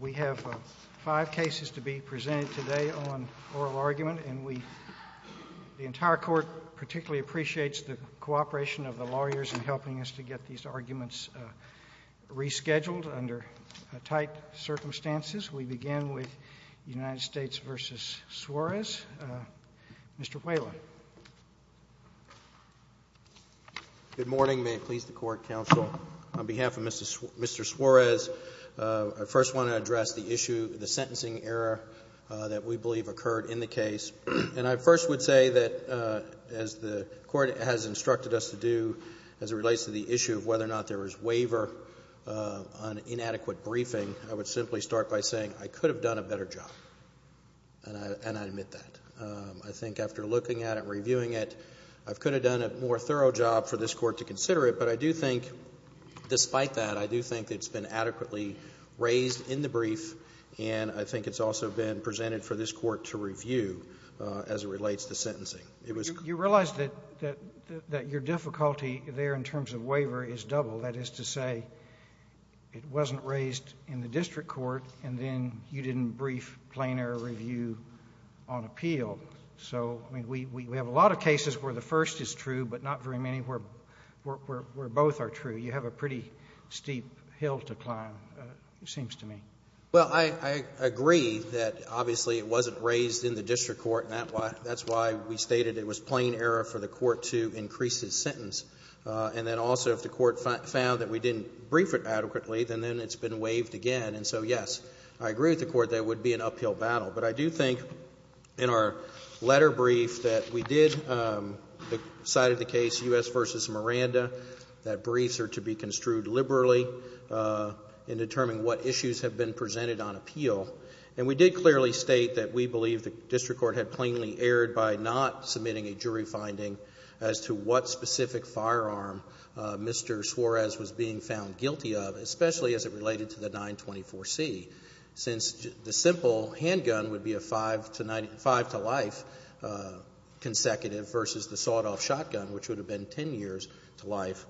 We have five cases to be presented today on oral argument, and the entire court particularly appreciates the cooperation of the lawyers in helping us to get these arguments rescheduled under tight circumstances. We begin with United States v. Suarez. Mr. Whalen. Good morning. May it please the Court, Counsel. On behalf of Mr. Suarez, I first want to address the issue, the sentencing error that we believe occurred in the case. And I first would say that as the Court has instructed us to do as it relates to the issue of whether or not there was waiver on inadequate briefing, I would simply start by saying I could have done a better job, and I admit that. I think after looking at it and reviewing it, I could have done a more thorough job for this Court to consider it. But I do think, despite that, I do think it's been adequately raised in the brief, and I think it's also been presented for this Court to review as it relates to sentencing. You realize that your difficulty there in terms of waiver is double, that is to say it wasn't raised in the district court, and then you didn't brief, plan or review on appeal. So, I mean, we have a lot of cases where the first is true, but not very many where both are true. You have a pretty steep hill to climb, it seems to me. Well, I agree that obviously it wasn't raised in the district court, and that's why we stated it was plain error for the Court to increase his sentence. And then also if the Court found that we didn't brief it adequately, then it's been waived again. And so, yes, I agree with the Court that it would be an uphill battle. But I do think in our letter brief that we did decide in the case U.S. v. Miranda that briefs are to be construed liberally in determining what issues have been presented on appeal. And we did clearly state that we believe the district court had plainly erred by not submitting a jury finding as to what specific firearm Mr. Suarez was being found guilty of, especially as it related to the 924C. Since the simple handgun would be a five-to-life consecutive versus the sawed-off shotgun, which would have been ten years to life.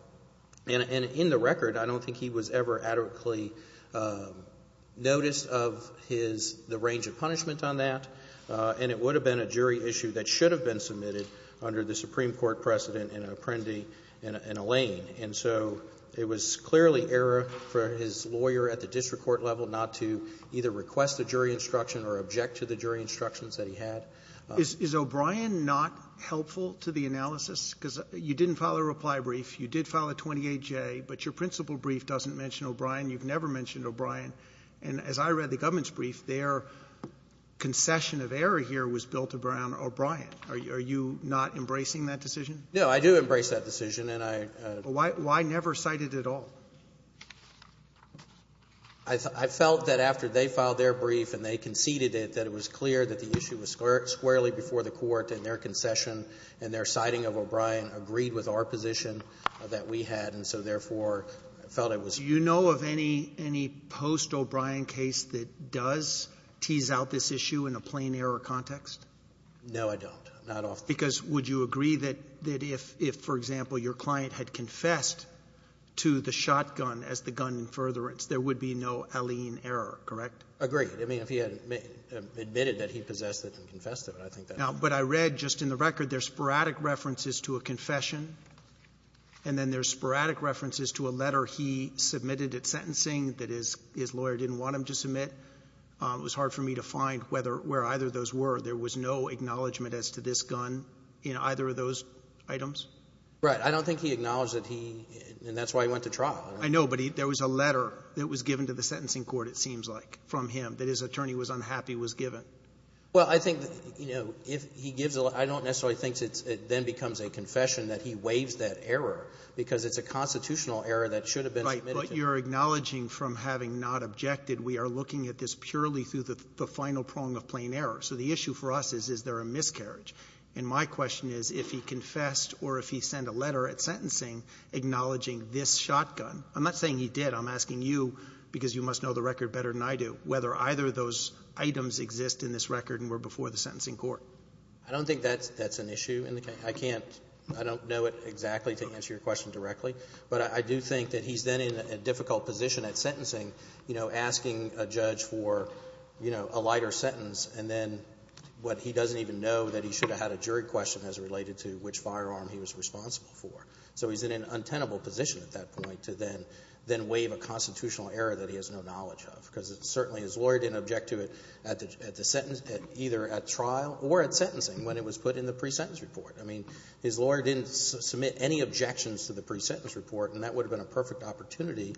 And in the record, I don't think he was ever adequately noticed of his – the range of punishment on that. And it would have been a jury issue that should have been submitted under the Supreme Court precedent in Apprendi and Allain. And so it was clearly error for his lawyer at the district court level not to either request a jury instruction or object to the jury instructions that he had. Roberts. Is O'Brien not helpful to the analysis? Because you didn't file a reply brief. You did file a 28J, but your principal brief doesn't mention O'Brien. You've never mentioned O'Brien. And as I read the government's brief, their concession of error here was built around O'Brien. Are you not embracing that decision? No, I do embrace that decision. And I — Why never cite it at all? I felt that after they filed their brief and they conceded it, that it was clear that the issue was squarely before the court. And their concession and their citing of O'Brien agreed with our position that we had. And so, therefore, I felt it was — Do you know of any post-O'Brien case that does tease out this issue in a plain error context? No, I don't. Not often. Because would you agree that if, for example, your client had confessed to the shotgun as the gun in furtherance, there would be no alien error, correct? Agreed. I mean, if he had admitted that he possessed it and confessed to it, I think that's true. Now, but I read just in the record there's sporadic references to a confession, and then there's sporadic references to a letter he submitted at sentencing that his lawyer didn't want him to submit. It was hard for me to find whether — where either of those were. There was no acknowledgment as to this gun in either of those items? Right. I don't think he acknowledged that he — and that's why he went to trial. I know. But there was a letter that was given to the sentencing court, it seems like, from him, that his attorney was unhappy was given. Well, I think, you know, if he gives a — I don't necessarily think it then becomes a confession that he waives that error, because it's a constitutional error that should have been submitted to him. But you're acknowledging from having not objected, we are looking at this purely through the final prong of plain error. So the issue for us is, is there a miscarriage? And my question is, if he confessed or if he sent a letter at sentencing acknowledging this shotgun. I'm not saying he did. I'm asking you, because you must know the record better than I do, whether either of those items exist in this record and were before the sentencing court. I don't think that's an issue in the case. I can't — I don't know it exactly, to answer your question directly. But I do think that he's then in a difficult position at sentencing, you know, asking a judge for, you know, a lighter sentence, and then what he doesn't even know, that he should have had a jury question as related to which firearm he was responsible for. So he's in an untenable position at that point to then — then waive a constitutional error that he has no knowledge of, because it's certainly — his lawyer didn't object to it at the — at the — either at trial or at sentencing when it was put in the pre-sentence report. I mean, his lawyer didn't submit any objections to the pre-sentence report, and that would have been a perfect opportunity.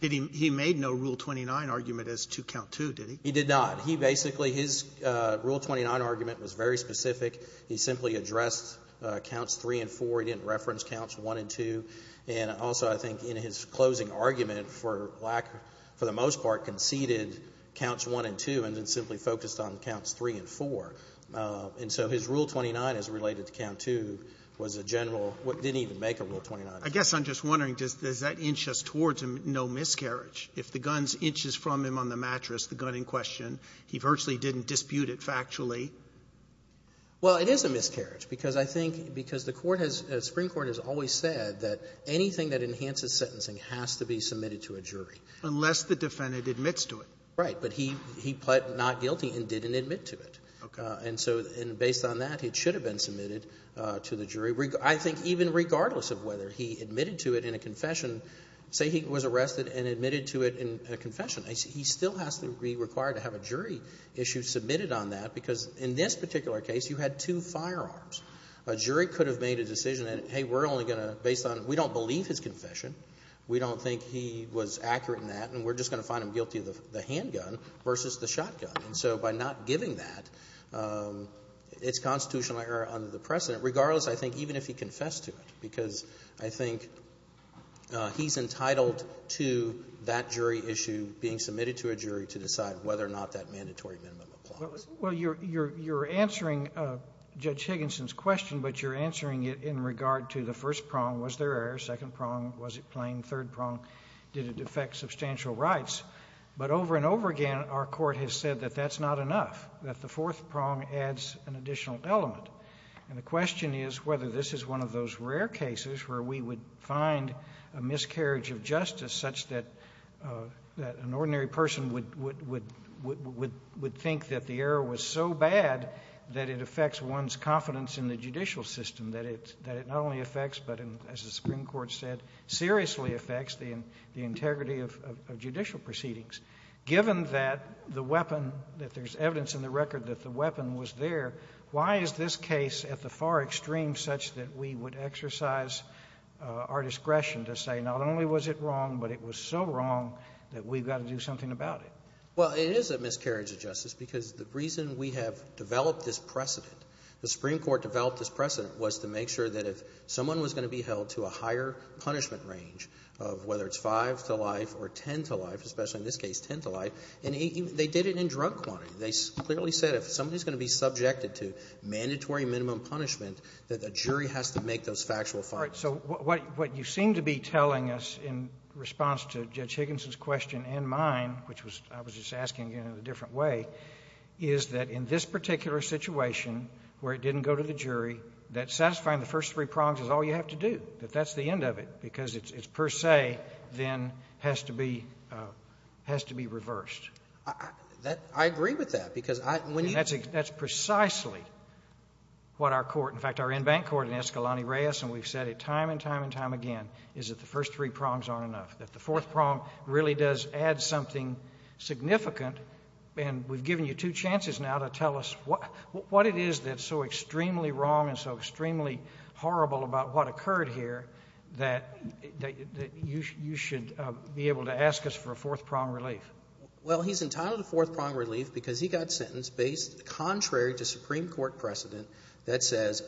He made no Rule 29 argument as to Count II, did he? He did not. He basically — his Rule 29 argument was very specific. He simply addressed Counts III and IV. He didn't reference Counts I and II. And also, I think, in his closing argument, for lack — for the most part, conceded Counts I and II and then simply focused on Counts III and IV. And so his Rule 29 as related to Count II was a general — didn't even make a Rule 29 argument. I guess I'm just wondering, does that inch us towards no miscarriage? If the guns inches from him on the mattress, the gun in question, he virtually didn't dispute it factually? Well, it is a miscarriage, because I think — because the Court has — the Supreme Court has always said that anything that enhances sentencing has to be submitted to a jury. Unless the defendant admits to it. Right. But he — he pled not guilty and didn't admit to it. Okay. And so — and based on that, it should have been submitted to the jury, I think even regardless of whether he admitted to it in a confession. Say he was arrested and admitted to it in a confession. He still has to be required to have a jury issue submitted on that, because in this particular case, you had two firearms. A jury could have made a decision that, hey, we're only going to — based on — we don't believe his confession. We don't think he was accurate in that, and we're just going to find him guilty of the handgun versus the shotgun. And so by not giving that, it's constitutional error under the precedent. Regardless, I think even if he confessed to it, because I think he's entitled to that jury issue being submitted to a jury to decide whether or not that mandatory minimum applies. Well, you're — you're answering Judge Higginson's question, but you're answering it in regard to the first prong. Was there error, second prong? Was it plain, third prong? Did it affect substantial rights? But over and over again, our Court has said that that's not enough, that the fourth prong adds an additional element. And the question is whether this is one of those rare cases where we would find a miscarriage of justice such that — that an ordinary person would — would think that the error was so bad that it affects one's confidence in the judicial system, that it not only affects but, as the Supreme Court said, seriously affects the integrity of judicial proceedings. Given that the weapon — that there's evidence in the record that the weapon was there, why is this case at the far extreme such that we would exercise our discretion to say not only was it wrong, but it was so wrong that we've got to do something about it? Well, it is a miscarriage of justice because the reason we have developed this precedent, the Supreme Court developed this precedent was to make sure that if someone was going to be held to a higher punishment range of whether it's five to life or ten to life, especially in this case, ten to life, and even — they did it in drug quantity. They clearly said if somebody's going to be subjected to mandatory minimum punishment, that the jury has to make those factual findings. All right. So what — what you seem to be telling us in response to Judge Higginson's question and mine, which was — I was just asking it in a different way, is that in this particular situation where it didn't go to the jury, that satisfying the first three prongs is all you have to do, that that's the end of it, because it's per se, then has to be — has to be reversed. That — I agree with that, because I — when you — And that's precisely what our court — in fact, our in-bank court in Escalante Reyes, and we've said it time and time and time again, is that the first three prongs aren't enough, that the fourth prong really does add something significant, and we've given you two chances now to tell us what — what it is that's so extremely wrong and so extremely horrible about what occurred here that — that you should be able to ask us for a fourth prong relief. Well, he's entitled to fourth prong relief because he got sentenced based contrary to Supreme Court precedent that says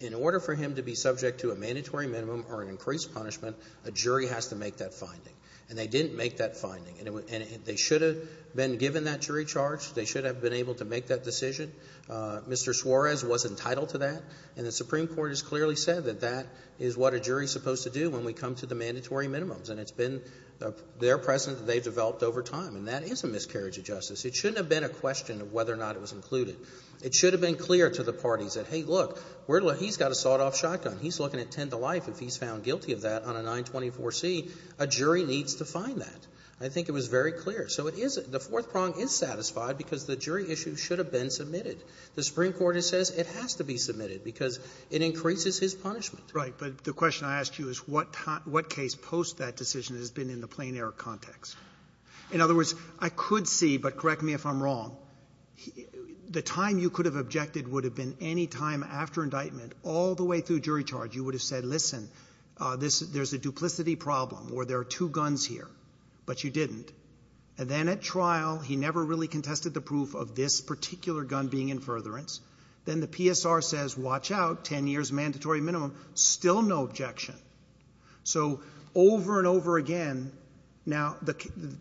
in order for him to be subject to a mandatory minimum or an increased punishment, a jury has to make that finding. And they didn't make that finding. And they should have been given that jury charge. They should have been able to make that decision. Mr. Suarez was entitled to that. And the Supreme Court has clearly said that that is what a jury is supposed to do when we come to the mandatory minimums. And it's been their precedent that they've developed over time. And that is a miscarriage of justice. It shouldn't have been a question of whether or not it was included. It should have been clear to the parties that, hey, look, we're — he's got a sawed-off shotgun. He's looking at 10 to life. If he's found guilty of that on a 924C, a jury needs to find that. I think it was very clear. So it isn't — the fourth prong is satisfied because the jury issue should have been submitted. The Supreme Court says it has to be submitted because it increases his punishment. Roberts. But the question I asked you is what time — what case post that decision has been in the plain-error context? In other words, I could see, but correct me if I'm wrong, the time you could have objected would have been any time after indictment all the way through jury charge. You would have said, listen, this — there's a duplicity problem where there are two And then at trial, he never really contested the proof of this particular gun being in furtherance. Then the PSR says, watch out, 10 years, mandatory minimum, still no objection. So over and over again, now, the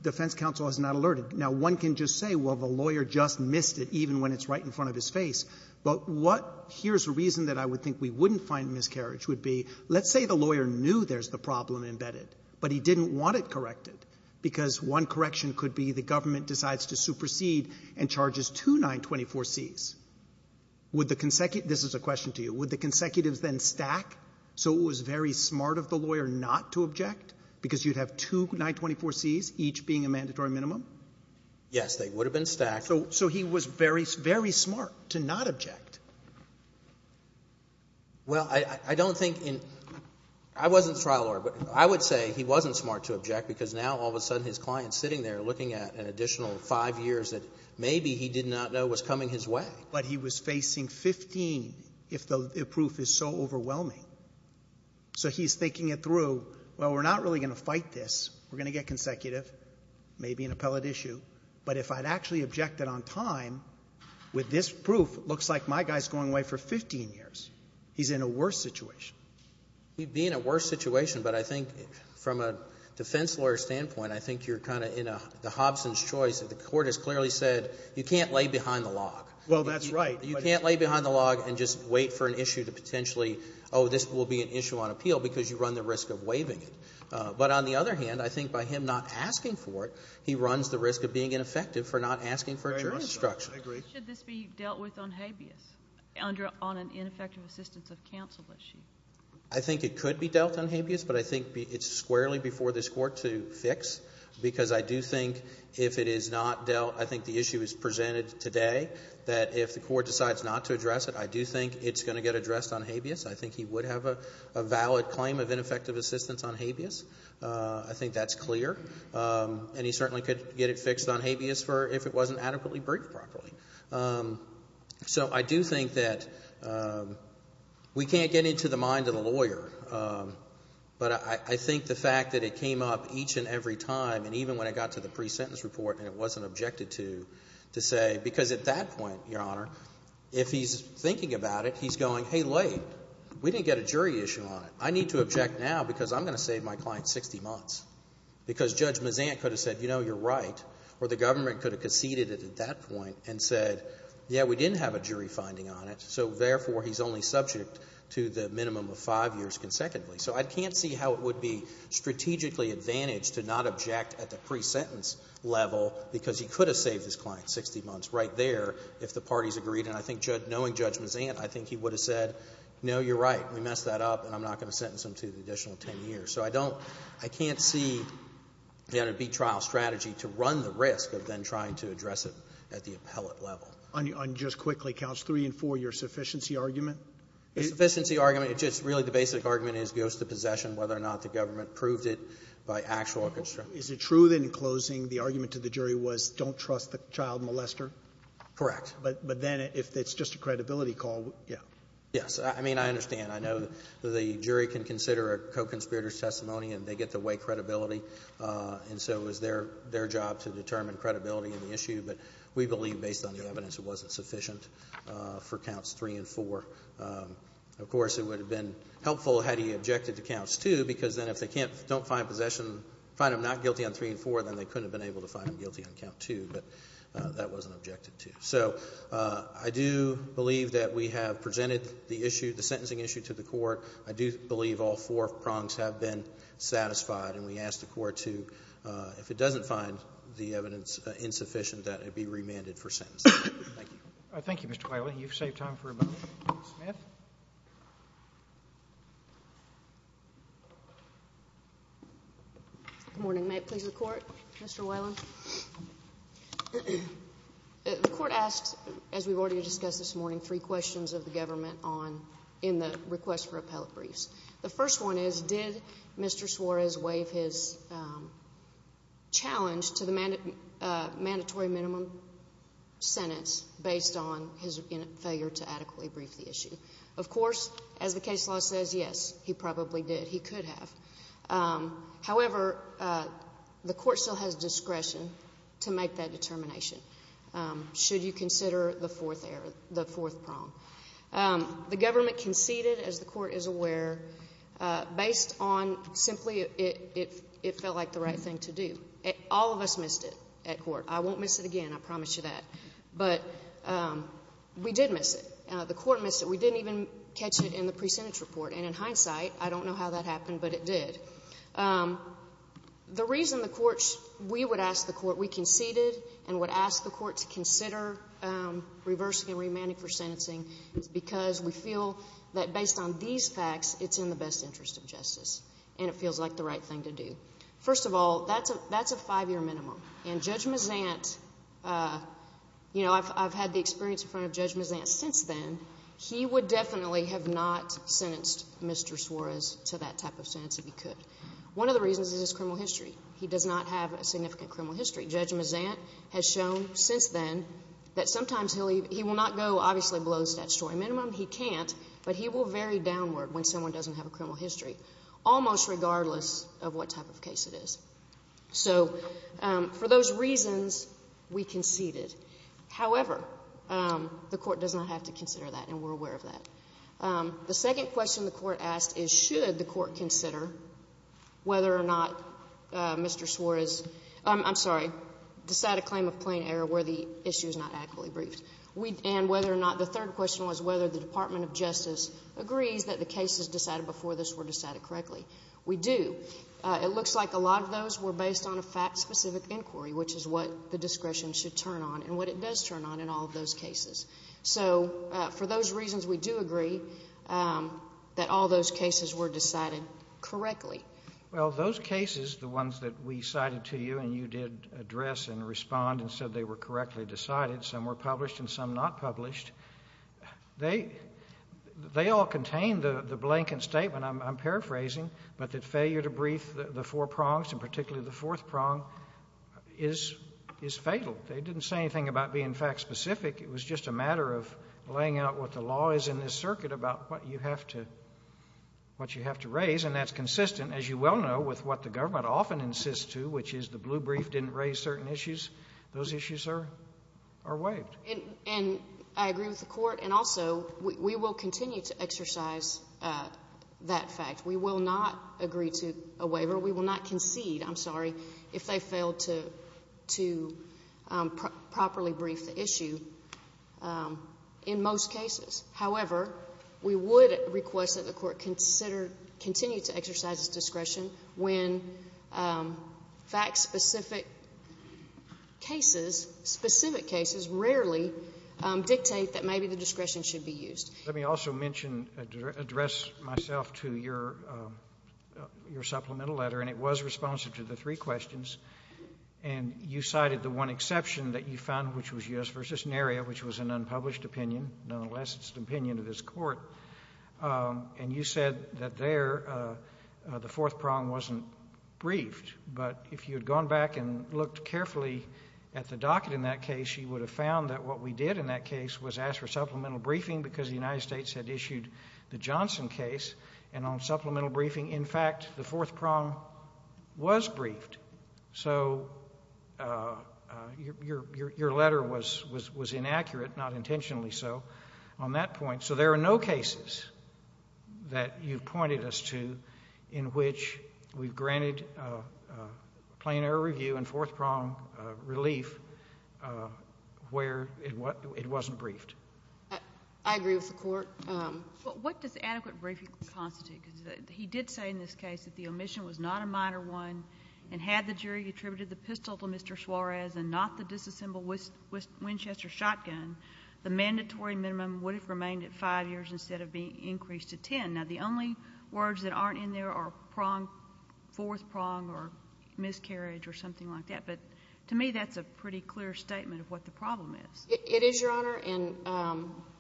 defense counsel is not alerted. Now, one can just say, well, the lawyer just missed it, even when it's right in front of his face. But what — here's the reason that I would think we wouldn't find miscarriage would be, let's say the lawyer knew there's the problem embedded, but he didn't want it corrected, because one correction could be the government decides to supersede and charges two 924Cs. Would the — this is a question to you. Would the consecutives then stack so it was very smart of the lawyer not to object because you'd have two 924Cs, each being a mandatory minimum? Yes. They would have been stacked. So he was very, very smart to not object. Well, I don't think in — I wasn't trial lawyer, but I would say he wasn't smart to object because now, all of a sudden, his client's sitting there looking at an additional five years that maybe he did not know was coming his way. But he was facing 15 if the proof is so overwhelming. So he's thinking it through. Well, we're not really going to fight this. We're going to get consecutive, maybe an appellate issue. But if I'd actually objected on time, with this proof, it looks like my guy's going away for 15 years. He's in a worse situation. He'd be in a worse situation, but I think from a defense lawyer's standpoint, I think you're kind of in a — the Hobson's choice. The court has clearly said you can't lay behind the log. Well, that's right. You can't lay behind the log and just wait for an issue to potentially, oh, this will be an issue on appeal because you run the risk of waiving it. But on the other hand, I think by him not asking for it, he runs the risk of being ineffective for not asking for a jury instruction. I agree. Should this be dealt with on habeas, on an ineffective assistance of counsel issue? I think it could be dealt on habeas, but I think it's squarely before this Court to fix because I do think if it is not dealt — I think the issue is presented today that if the Court decides not to address it, I do think it's going to get addressed on habeas. I think he would have a valid claim of ineffective assistance on habeas. I think that's clear. And he certainly could get it fixed on habeas for — if it wasn't adequately briefed properly. So I do think that we can't get into the mind of the lawyer, but I think the fact that it came up each and every time, and even when it got to the pre-sentence report and it wasn't objected to, to say — because at that point, Your Honor, if he's thinking about it, he's going, hey, wait, we didn't get a jury issue on it. I need to object now because I'm going to save my client 60 months because Judge Mazant could have said, you know, you're right, or the government could have conceded it at that point and said, yeah, we didn't have a jury finding on it, so therefore, he's only subject to the minimum of five years consecutively. So I can't see how it would be strategically advantaged to not object at the pre-sentence level because he could have saved his client 60 months right there if the parties agreed, and I think knowing Judge Mazant, I think he would have said, no, you're right, we messed that up, and I'm not going to sentence him to the additional 10 years. So I don't — I can't see, Your Honor, a beat trial strategy to run the risk of then trying to address it at the appellate level. Roberts. On just quickly, counts 3 and 4, your sufficiency argument? The sufficiency argument, it's just really the basic argument is ghost of possession, whether or not the government proved it by actual — Is it true that in closing, the argument to the jury was don't trust the child molester? Correct. But then if it's just a credibility call, yeah. Yes. I mean, I understand. I know the jury can consider a co-conspirator's testimony and they get to weigh credibility, and so it was their job to determine credibility in the issue, but we believe based on the evidence it wasn't sufficient for counts 3 and 4. Of course, it would have been helpful had he objected to counts 2 because then if they can't — don't find possession — find him not guilty on 3 and 4, then they couldn't have been able to find him guilty on count 2, but that wasn't objected to. So I do believe that we have presented the issue, the sentencing issue to the court. I do believe all four prongs have been satisfied, and we ask the court to, if it doesn't find the evidence insufficient, that it be remanded for sentencing. Thank you. Thank you, Mr. Whalen. You've saved time for a moment. Ms. Smith? Good morning. May it please the Court? Mr. Whalen? The Court asked, as we've already discussed this morning, three questions of the government on — in the request for appellate briefs. The first one is, did Mr. Suarez waive his challenge to the mandatory minimum sentence based on his failure to adequately brief the issue? Of course, as the case law says, yes, he probably did. He could have. However, the court still has discretion to make that determination, should you consider the fourth error, the fourth prong. The government conceded, as the court is aware, based on simply it felt like the right thing to do. All of us missed it at court. I won't miss it again. I promise you that. But we did miss it. The court missed it. We didn't even catch it in the pre-sentence report. And in hindsight, I don't know how that happened, but it did. The reason the courts — we would ask the court — we conceded and would ask the court to consider reversing and remanding for sentencing is because we feel that based on these facts, it's in the best interest of justice, and it feels like the right thing to do. First of all, that's a five-year minimum. And Judge Mazant — you know, I've had the experience in front of Judge Mazant that since then, he would definitely have not sentenced Mr. Suarez to that type of sentence if he could. One of the reasons is his criminal history. He does not have a significant criminal history. Judge Mazant has shown since then that sometimes he'll — he will not go, obviously, below the statutory minimum. He can't. But he will vary downward when someone doesn't have a criminal history, almost regardless of what type of case it is. So for those reasons, we conceded. However, the court does not have to consider that, and we're aware of that. The second question the court asked is should the court consider whether or not Mr. Suarez — I'm sorry — decided a claim of plain error where the issue is not adequately briefed. And whether or not — the third question was whether the Department of Justice agrees that the cases decided before this were decided correctly. We do. It looks like a lot of those were based on a fact-specific inquiry, which is what the discretion should turn on and what it does turn on in all of those cases. So for those reasons, we do agree that all those cases were decided correctly. Well, those cases, the ones that we cited to you and you did address and respond and said they were correctly decided, some were published and some not published, they all contain the blanket statement, I'm paraphrasing, but that failure to brief the four prongs, and particularly the fourth prong, is fatal. They didn't say anything about being fact-specific. It was just a matter of laying out what the law is in this circuit about what you have to raise, and that's consistent, as you well know, with what the government often insists to, which is the blue brief didn't raise certain issues. Those issues are waived. And I agree with the court, and also we will continue to exercise that fact. We will not agree to a waiver. We will not concede, I'm sorry, if they fail to properly brief the issue in most cases. However, we would request that the court consider, continue to exercise its discretion when fact-specific cases, specific cases, rarely dictate that maybe the discretion should be used. Let me also mention, address myself to your supplemental letter, and it was responsive to the three questions, and you cited the one exception that you found, which was U.S. v. Naria, which was an unpublished opinion, nonetheless it's an opinion of this court, and you said that there the fourth prong wasn't briefed, but if you had gone back and looked carefully at the docket in that case, you would have found that what we did in that case was ask for supplemental briefing, because the United States had issued the Johnson case, and on supplemental briefing, in fact, the fourth prong was briefed. So your letter was inaccurate, not intentionally so, on that point. So there are no cases that you've pointed us to in which we've granted plain error view and fourth prong relief where it wasn't briefed. I agree with the court. What does adequate briefing constitute? Because he did say in this case that the omission was not a minor one, and had the jury attributed the pistol to Mr. Suarez and not the disassembled Winchester shotgun, the mandatory minimum would have remained at 5 years instead of being increased to 10. Now, the only words that aren't in there are prong, fourth prong or miscarriage or something like that, but to me that's a pretty clear statement of what the problem It is, Your Honor, and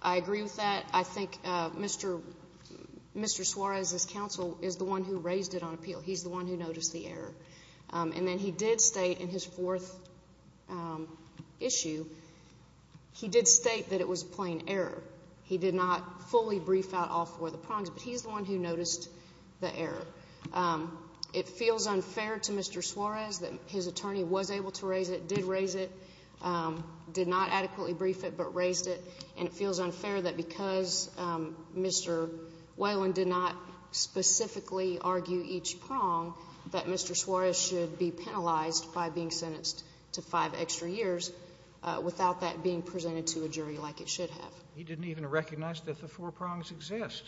I agree with that. I think Mr. Suarez's counsel is the one who raised it on appeal. He's the one who noticed the error. And then he did state in his fourth issue, he did state that it was plain error. He did not fully brief out all four of the prongs, but he's the one who noticed the error. It feels unfair to Mr. Suarez that his attorney was able to raise it, did raise it, did not adequately brief it, but raised it. And it feels unfair that because Mr. Whalen did not specifically argue each prong, that Mr. Suarez should be penalized by being sentenced to 5 extra years without that being presented to a jury like it should have. He didn't even recognize that the four prongs exist.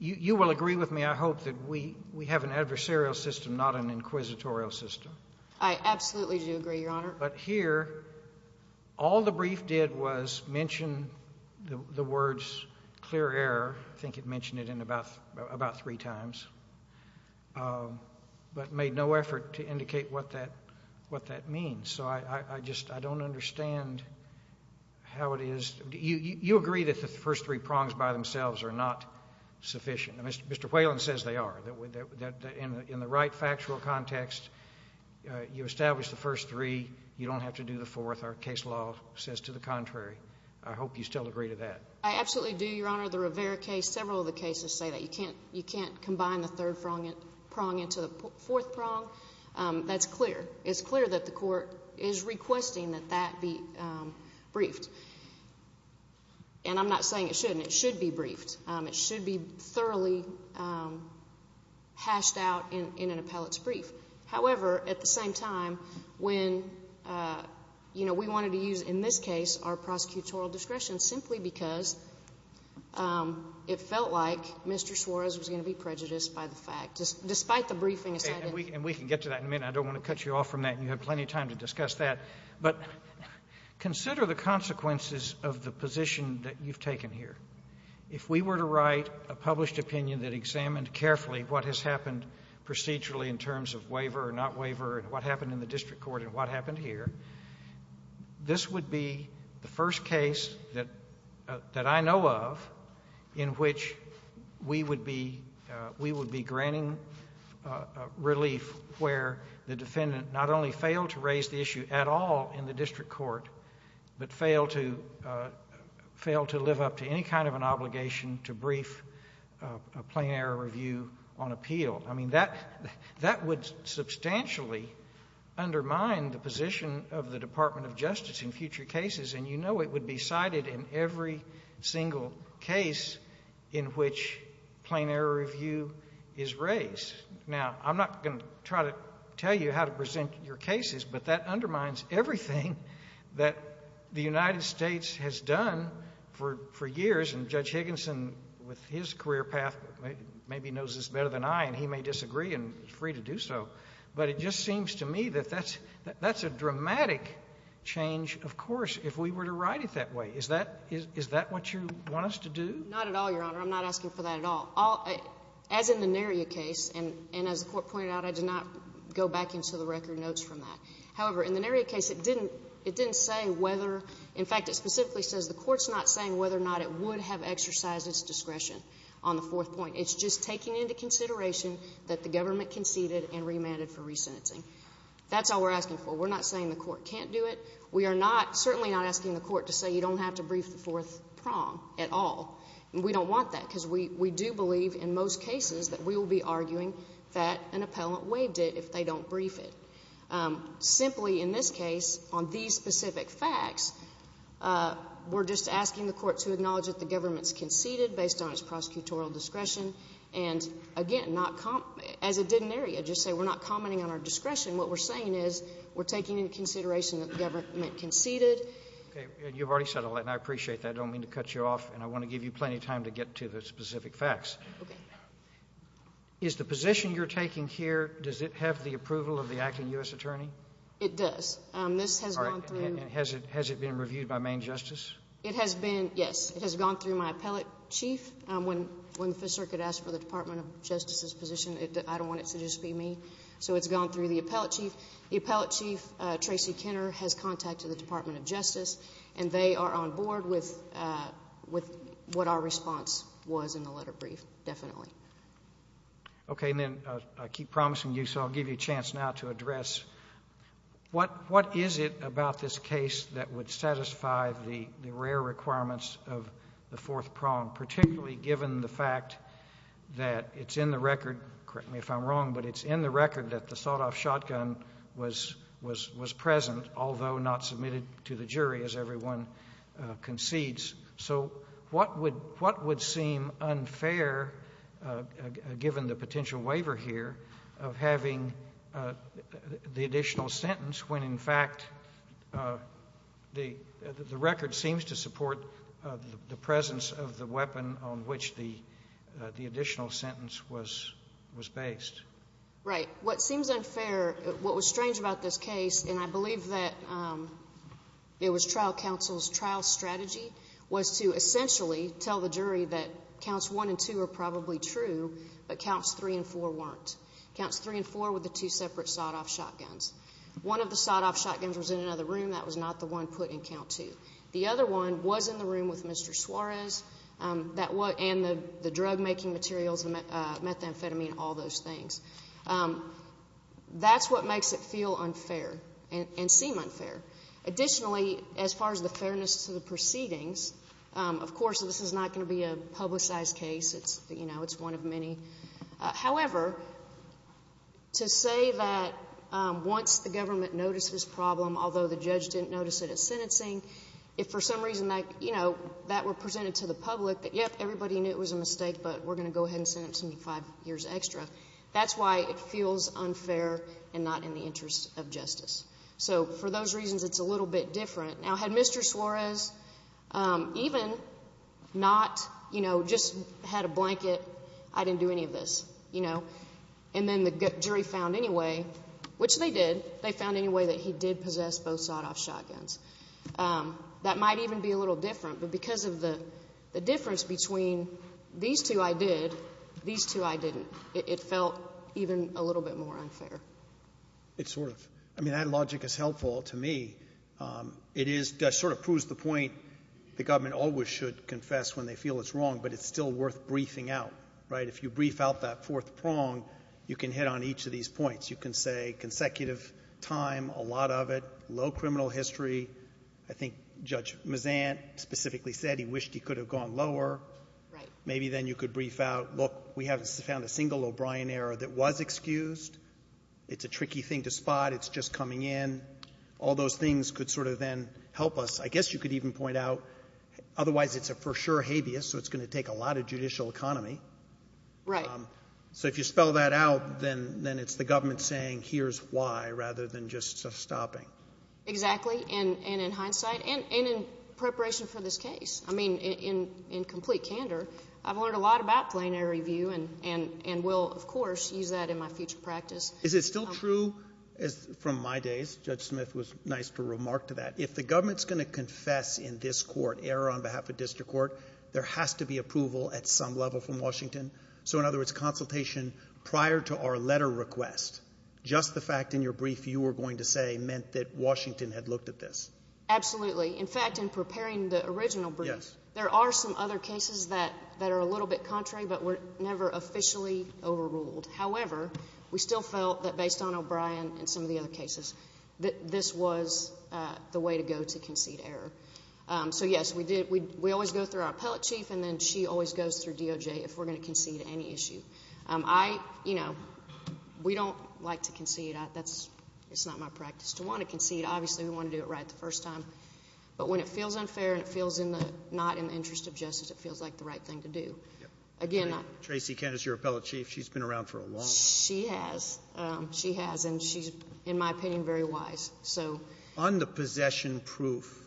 You will agree with me, I hope, that we have an adversarial system, not an inquisitorial system. I absolutely do agree, Your Honor. But here, all the brief did was mention the words clear error. I think it mentioned it in about three times, but made no effort to indicate what that means. So I just don't understand how it is. You agree that the first three prongs by themselves are not sufficient. Mr. Whalen says they are. In the right factual context, you establish the first three, you don't have to do the fourth. Our case law says to the contrary. I hope you still agree to that. I absolutely do, Your Honor. The Rivera case, several of the cases say that. You can't combine the third prong into the fourth prong. That's clear. It's clear that the Court is requesting that that be briefed. And I'm not saying it shouldn't. It should be briefed. It should be thoroughly hashed out in an appellate's brief. However, at the same time, when, you know, we wanted to use in this case our prosecutorial discretion simply because it felt like Mr. Suarez was going to be prejudiced by the fact, And we can get to that in a minute. I don't want to cut you off from that. You have plenty of time to discuss that. But consider the consequences of the position that you've taken here. If we were to write a published opinion that examined carefully what has happened procedurally in terms of waiver or not waiver and what happened in the district court and what happened here, this would be the first case that I know of in which we would be granting relief where the defendant not only failed to raise the issue at all in the district court, but failed to live up to any kind of an obligation to brief a plain error review on appeal. I mean, that would substantially undermine the position of the Department of Justice in future cases. And you know it would be cited in every single case in which plain error review is raised. Now, I'm not going to try to tell you how to present your cases, but that undermines everything that the United States has done for years. And Judge Higginson with his career path maybe knows this better than I, and he may disagree and is free to do so. But it just seems to me that that's a dramatic change, of course, if we were to write it that way. Is that what you want us to do? Not at all, Your Honor. I'm not asking for that at all. As in the Naria case, and as the Court pointed out, I did not go back into the record notes from that. However, in the Naria case, it didn't say whether — in fact, it specifically says the Court's not saying whether or not it would have exercised its discretion on the fourth point. It's just taking into consideration that the government conceded and remanded for resentencing. That's all we're asking for. We're not saying the Court can't do it. We are not — certainly not asking the Court to say you don't have to brief the fourth prong at all. And we don't want that, because we do believe in most cases that we will be arguing that an appellant waived it if they don't brief it. Simply, in this case, on these specific facts, we're just asking the Court to acknowledge that the government's conceded based on its prosecutorial discretion. And, again, not — as it did in Naria, just say we're not commenting on our discretion. What we're saying is we're taking into consideration that the government conceded. Okay. You've already said all that, and I appreciate that. I don't mean to cut you off, and I want to give you plenty of time to get to the specific facts. Okay. Is the position you're taking here — does it have the approval of the acting U.S. attorney? It does. This has gone through — All right. And has it been reviewed by main justice? It has been — yes. It has gone through my appellate chief. When the Fifth Circuit asked for the Department of Justice's position, I don't want it to just be me. So it's gone through the appellate chief. The appellate chief, Tracy Kenner, has contacted the Department of Justice, and they are on board with what our response was in the letter brief, definitely. Okay. And then I keep promising you, so I'll give you a chance now to address what is it about this case that would satisfy the rare requirements of the fourth prong, particularly given the fact that it's in the record — correct me if I'm wrong, but it's in the record that the sawed-off shotgun was present, although not submitted to the jury, as everyone concedes. So what would seem unfair, given the potential waiver here, of having the additional sentence when, in fact, the record seems to support the presence of the weapon on which the additional sentence was based? Right. What seems unfair, what was strange about this case, and I believe that it was trial counsel's trial strategy, was to essentially tell the jury that counts one and two are probably true, but counts three and four weren't. Counts three and four were the two separate sawed-off shotguns. One of the sawed-off shotguns was in another room. That was not the one put in count two. The other one was in the room with Mr. Suarez, and the drug-making materials, the methamphetamine, all those things. That's what makes it feel unfair and seem unfair. Additionally, as far as the fairness to the proceedings, of course, this is not going to be a publicized case. It's one of many. However, to say that once the government noticed this problem, although the judge didn't notice it at sentencing, if for some reason that were presented to the public, that, everybody knew it was a mistake, but we're going to go ahead and sentence him to five years extra, that's why it feels unfair and not in the interest of justice. So for those reasons, it's a little bit different. Now, had Mr. Suarez even not, you know, just had a blanket, I didn't do any of this, you know. And then the jury found anyway, which they did, they found anyway that he did possess both sawed-off shotguns. That might even be a little different, but because of the difference between these two I did, these two I didn't. It felt even a little bit more unfair. It sort of. I mean, that logic is helpful to me. It is sort of proves the point the government always should confess when they feel it's wrong, but it's still worth briefing out, right? If you brief out that fourth prong, you can hit on each of these points. You can say consecutive time, a lot of it, low criminal history. I think Judge Mazant specifically said he wished he could have gone lower. Right. Maybe then you could brief out, look, we haven't found a single O'Brien error that was excused. It's a tricky thing to spot. It's just coming in. All those things could sort of then help us. I guess you could even point out otherwise it's a for sure habeas, so it's going to take a lot of judicial economy. Right. So if you spell that out, then it's the government saying here's why rather than just stopping. Exactly. And in hindsight and in preparation for this case, I mean, in complete candor, I've learned a lot about plenary review and will, of course, use that in my future practice. Is it still true from my days, Judge Smith was nice to remark to that, if the government is going to confess in this court error on behalf of district court, there has to be approval at some level from Washington. So in other words, consultation prior to our letter request, just the fact in your brief you were going to say meant that Washington had looked at this. Absolutely. In fact, in preparing the original brief, there are some other cases that are a little bit contrary but were never officially overruled. However, we still felt that based on O'Brien and some of the other cases, that this was the way to go to concede error. So, yes, we always go through our appellate chief and then she always goes through DOJ if we're going to concede any issue. I, you know, we don't like to concede. That's not my practice. To want to concede, obviously, we want to do it right the first time. But when it feels unfair and it feels not in the interest of justice, it feels like the right thing to do. Again, Tracy Kent is your appellate chief. She's been around for a long time. She has. She has. And she's, in my opinion, very wise. On the possession proof,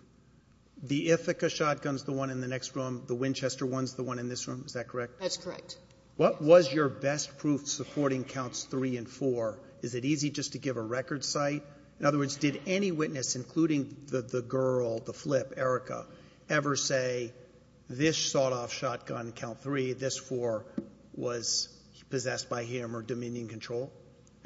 the Ithaca shotgun is the one in the next room. The Winchester one is the one in this room. Is that correct? That's correct. What was your best proof supporting counts 3 and 4? Is it easy just to give a record cite? In other words, did any witness, including the girl, the flip, Erica, ever say this sawed-off shotgun, count 3, this 4, was possessed by him or dominion control?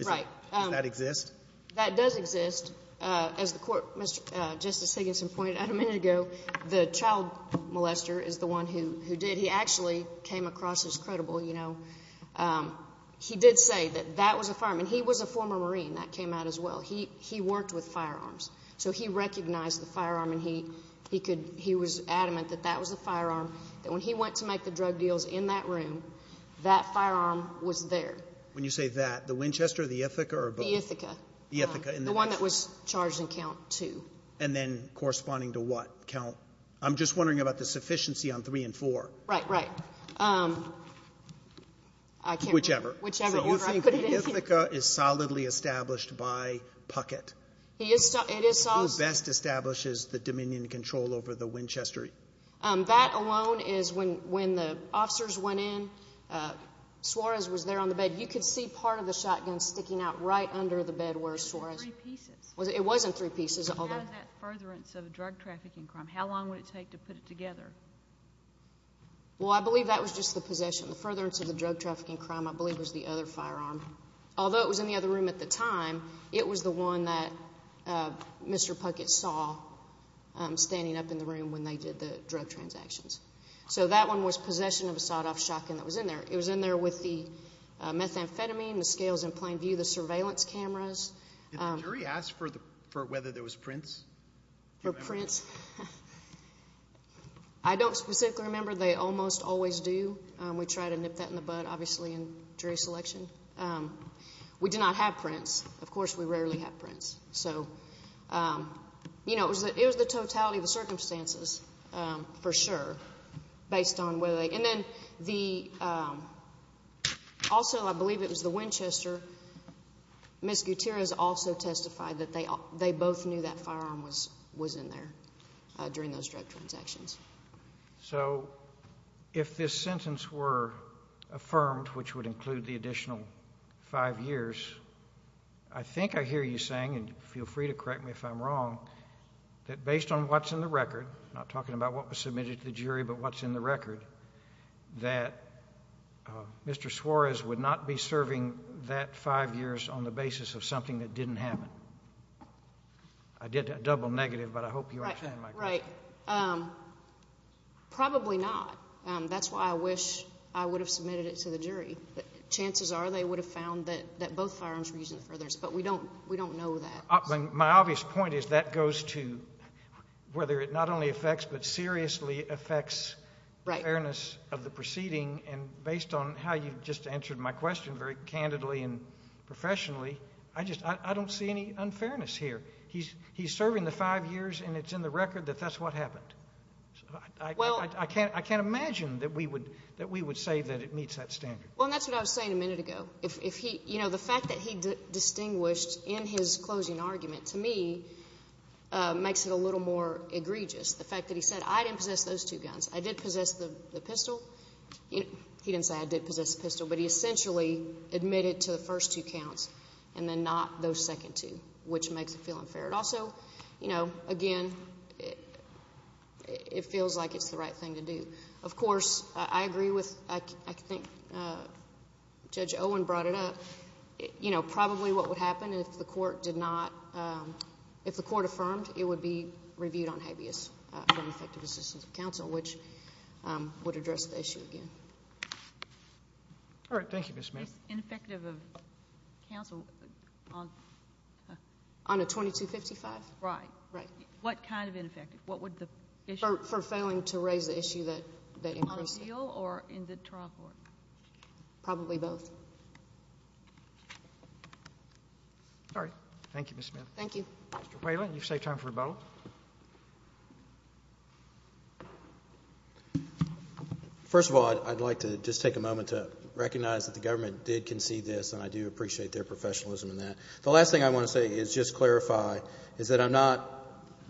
Right. Does that exist? That does exist. As the Court, Mr. Justice Higginson pointed out a minute ago, the child molester is the one who did. He actually came across as credible, you know. He did say that that was a firearm. And he was a former Marine. That came out as well. He worked with firearms. So he recognized the firearm and he was adamant that that was a firearm, that when he went to make the drug deals in that room, that firearm was there. When you say that, the Winchester, the Ithaca, or both? The Ithaca. The Ithaca. The one that was charged in count 2. And then corresponding to what count? I'm just wondering about the sufficiency on 3 and 4. Right. Right. I can't remember. Whichever. Whichever. So you think the Ithaca is solidly established by Puckett? He is solid. It is solid. Who best establishes the dominion control over the Winchester? That alone is when the officers went in, Suarez was there on the bed. You could see part of the shotgun sticking out right under the bed where Suarez was. Three pieces. It was in three pieces. And how does that furtherance of a drug trafficking crime, how long would it take to put it together? Well, I believe that was just the possession. The furtherance of the drug trafficking crime, I believe, was the other firearm. Although it was in the other room at the time, it was the one that Mr. Puckett saw standing up in the room when they did the drug transactions. So that one was possession of a sawed-off shotgun that was in there. It was in there with the methamphetamine, the scales in plain view, the surveillance cameras. Did the jury ask for whether there was prints? For prints? I don't specifically remember. They almost always do. We try to nip that in the bud, obviously, in jury selection. We did not have prints. Of course, we rarely have prints. So, you know, it was the totality of the circumstances, for sure, based on whether they. And then also I believe it was the Winchester. Ms. Gutierrez also testified that they both knew that firearm was in there during those drug transactions. So if this sentence were affirmed, which would include the additional five years, I think I hear you saying, and feel free to correct me if I'm wrong, that based on what's in the record, I'm not talking about what was submitted to the jury, but what's in the record, that Mr. Suarez would not be serving that five years on the basis of something that didn't happen. I did a double negative, but I hope you understand my question. Right. Probably not. That's why I wish I would have submitted it to the jury. Chances are they would have found that both firearms were used in the furthers, but we don't know that. My obvious point is that goes to whether it not only affects, but seriously affects fairness of the proceeding. And based on how you've just answered my question very candidly and professionally, I don't see any unfairness here. He's serving the five years, and it's in the record that that's what happened. I can't imagine that we would say that it meets that standard. Well, and that's what I was saying a minute ago. The fact that he distinguished in his closing argument to me makes it a little more egregious. The fact that he said, I didn't possess those two guns. I did possess the pistol. He didn't say I did possess the pistol, but he essentially admitted to the first two counts and then not those second two, which makes it feel unfair. Also, again, it feels like it's the right thing to do. Of course, I agree with, I think Judge Owen brought it up, probably what would happen if the court did not, if the court affirmed it would be reviewed on habeas for ineffective assistance of counsel, which would address the issue again. All right. Thank you, Ms. Smith. Ineffective of counsel on a 2255? Right. Right. What kind of ineffective? What would the issue be? For failing to raise the issue that increased it. On a deal or in the trial court? Probably both. All right. Thank you, Ms. Smith. Thank you. Mr. Whalen, you've saved time for rebuttal. First of all, I'd like to just take a moment to recognize that the government did concede this, and I do appreciate their professionalism in that. The last thing I want to say is just clarify, is that I'm not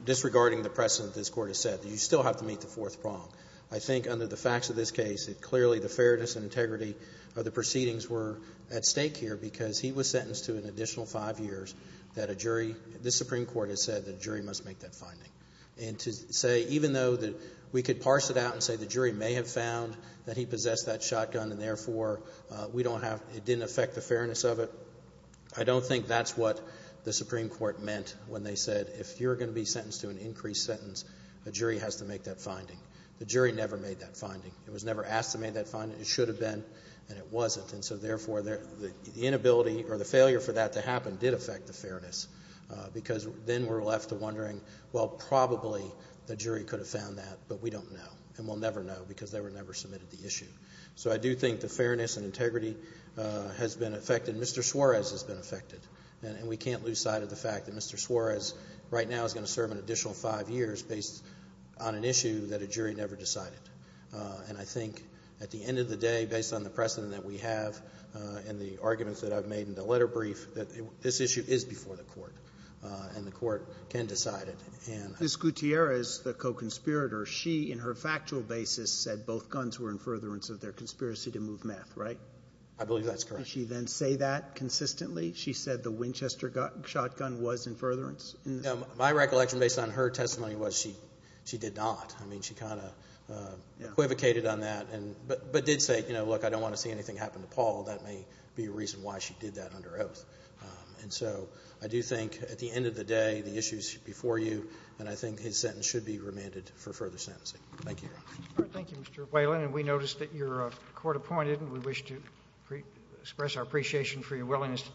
disregarding the precedent this Court has set, that you still have to meet the fourth prong. I think under the facts of this case, clearly the fairness and integrity of the proceedings were at stake here because he was sentenced to an additional five years that a jury, this Supreme Court has said that a jury must make that finding. And to say, even though we could parse it out and say the jury may have found that he possessed that shotgun and, therefore, we don't have, it didn't affect the fairness of it, I don't think that's what the Supreme Court meant when they said, if you're going to be sentenced to an increased sentence, a jury has to make that finding. The jury never made that finding. It was never asked to make that finding. It should have been, and it wasn't. And so, therefore, the inability or the failure for that to happen did affect the fairness because then we're left wondering, well, probably the jury could have found that, but we don't know, and we'll never know because they were never submitted the issue. So I do think the fairness and integrity has been affected. Mr. Suarez has been affected. And we can't lose sight of the fact that Mr. Suarez right now is going to serve an additional five years based on an issue that a jury never decided. And I think at the end of the day, based on the precedent that we have and the arguments that I've made in the letter brief, that this issue is before the Court, and the Court can decide it. And I don't know. Roberts. Mr. Gutierrez, the co-conspirator, she, in her factual basis, said both guns were in furtherance of their conspiracy to move meth, right? I believe that's correct. Did she then say that consistently? She said the Winchester shotgun was in furtherance? My recollection based on her testimony was she did not. I mean, she kind of equivocated on that, but did say, you know, look, I don't want to see anything happen to Paul. That may be a reason why she did that under oath. And so I do think at the end of the day, the issue is before you, and I think his sentence should be remanded for further sentencing. Thank you, Your Honor. Thank you, Mr. Whalen. And we notice that you're court appointed, and we wish to express our appreciation for your willingness to testify.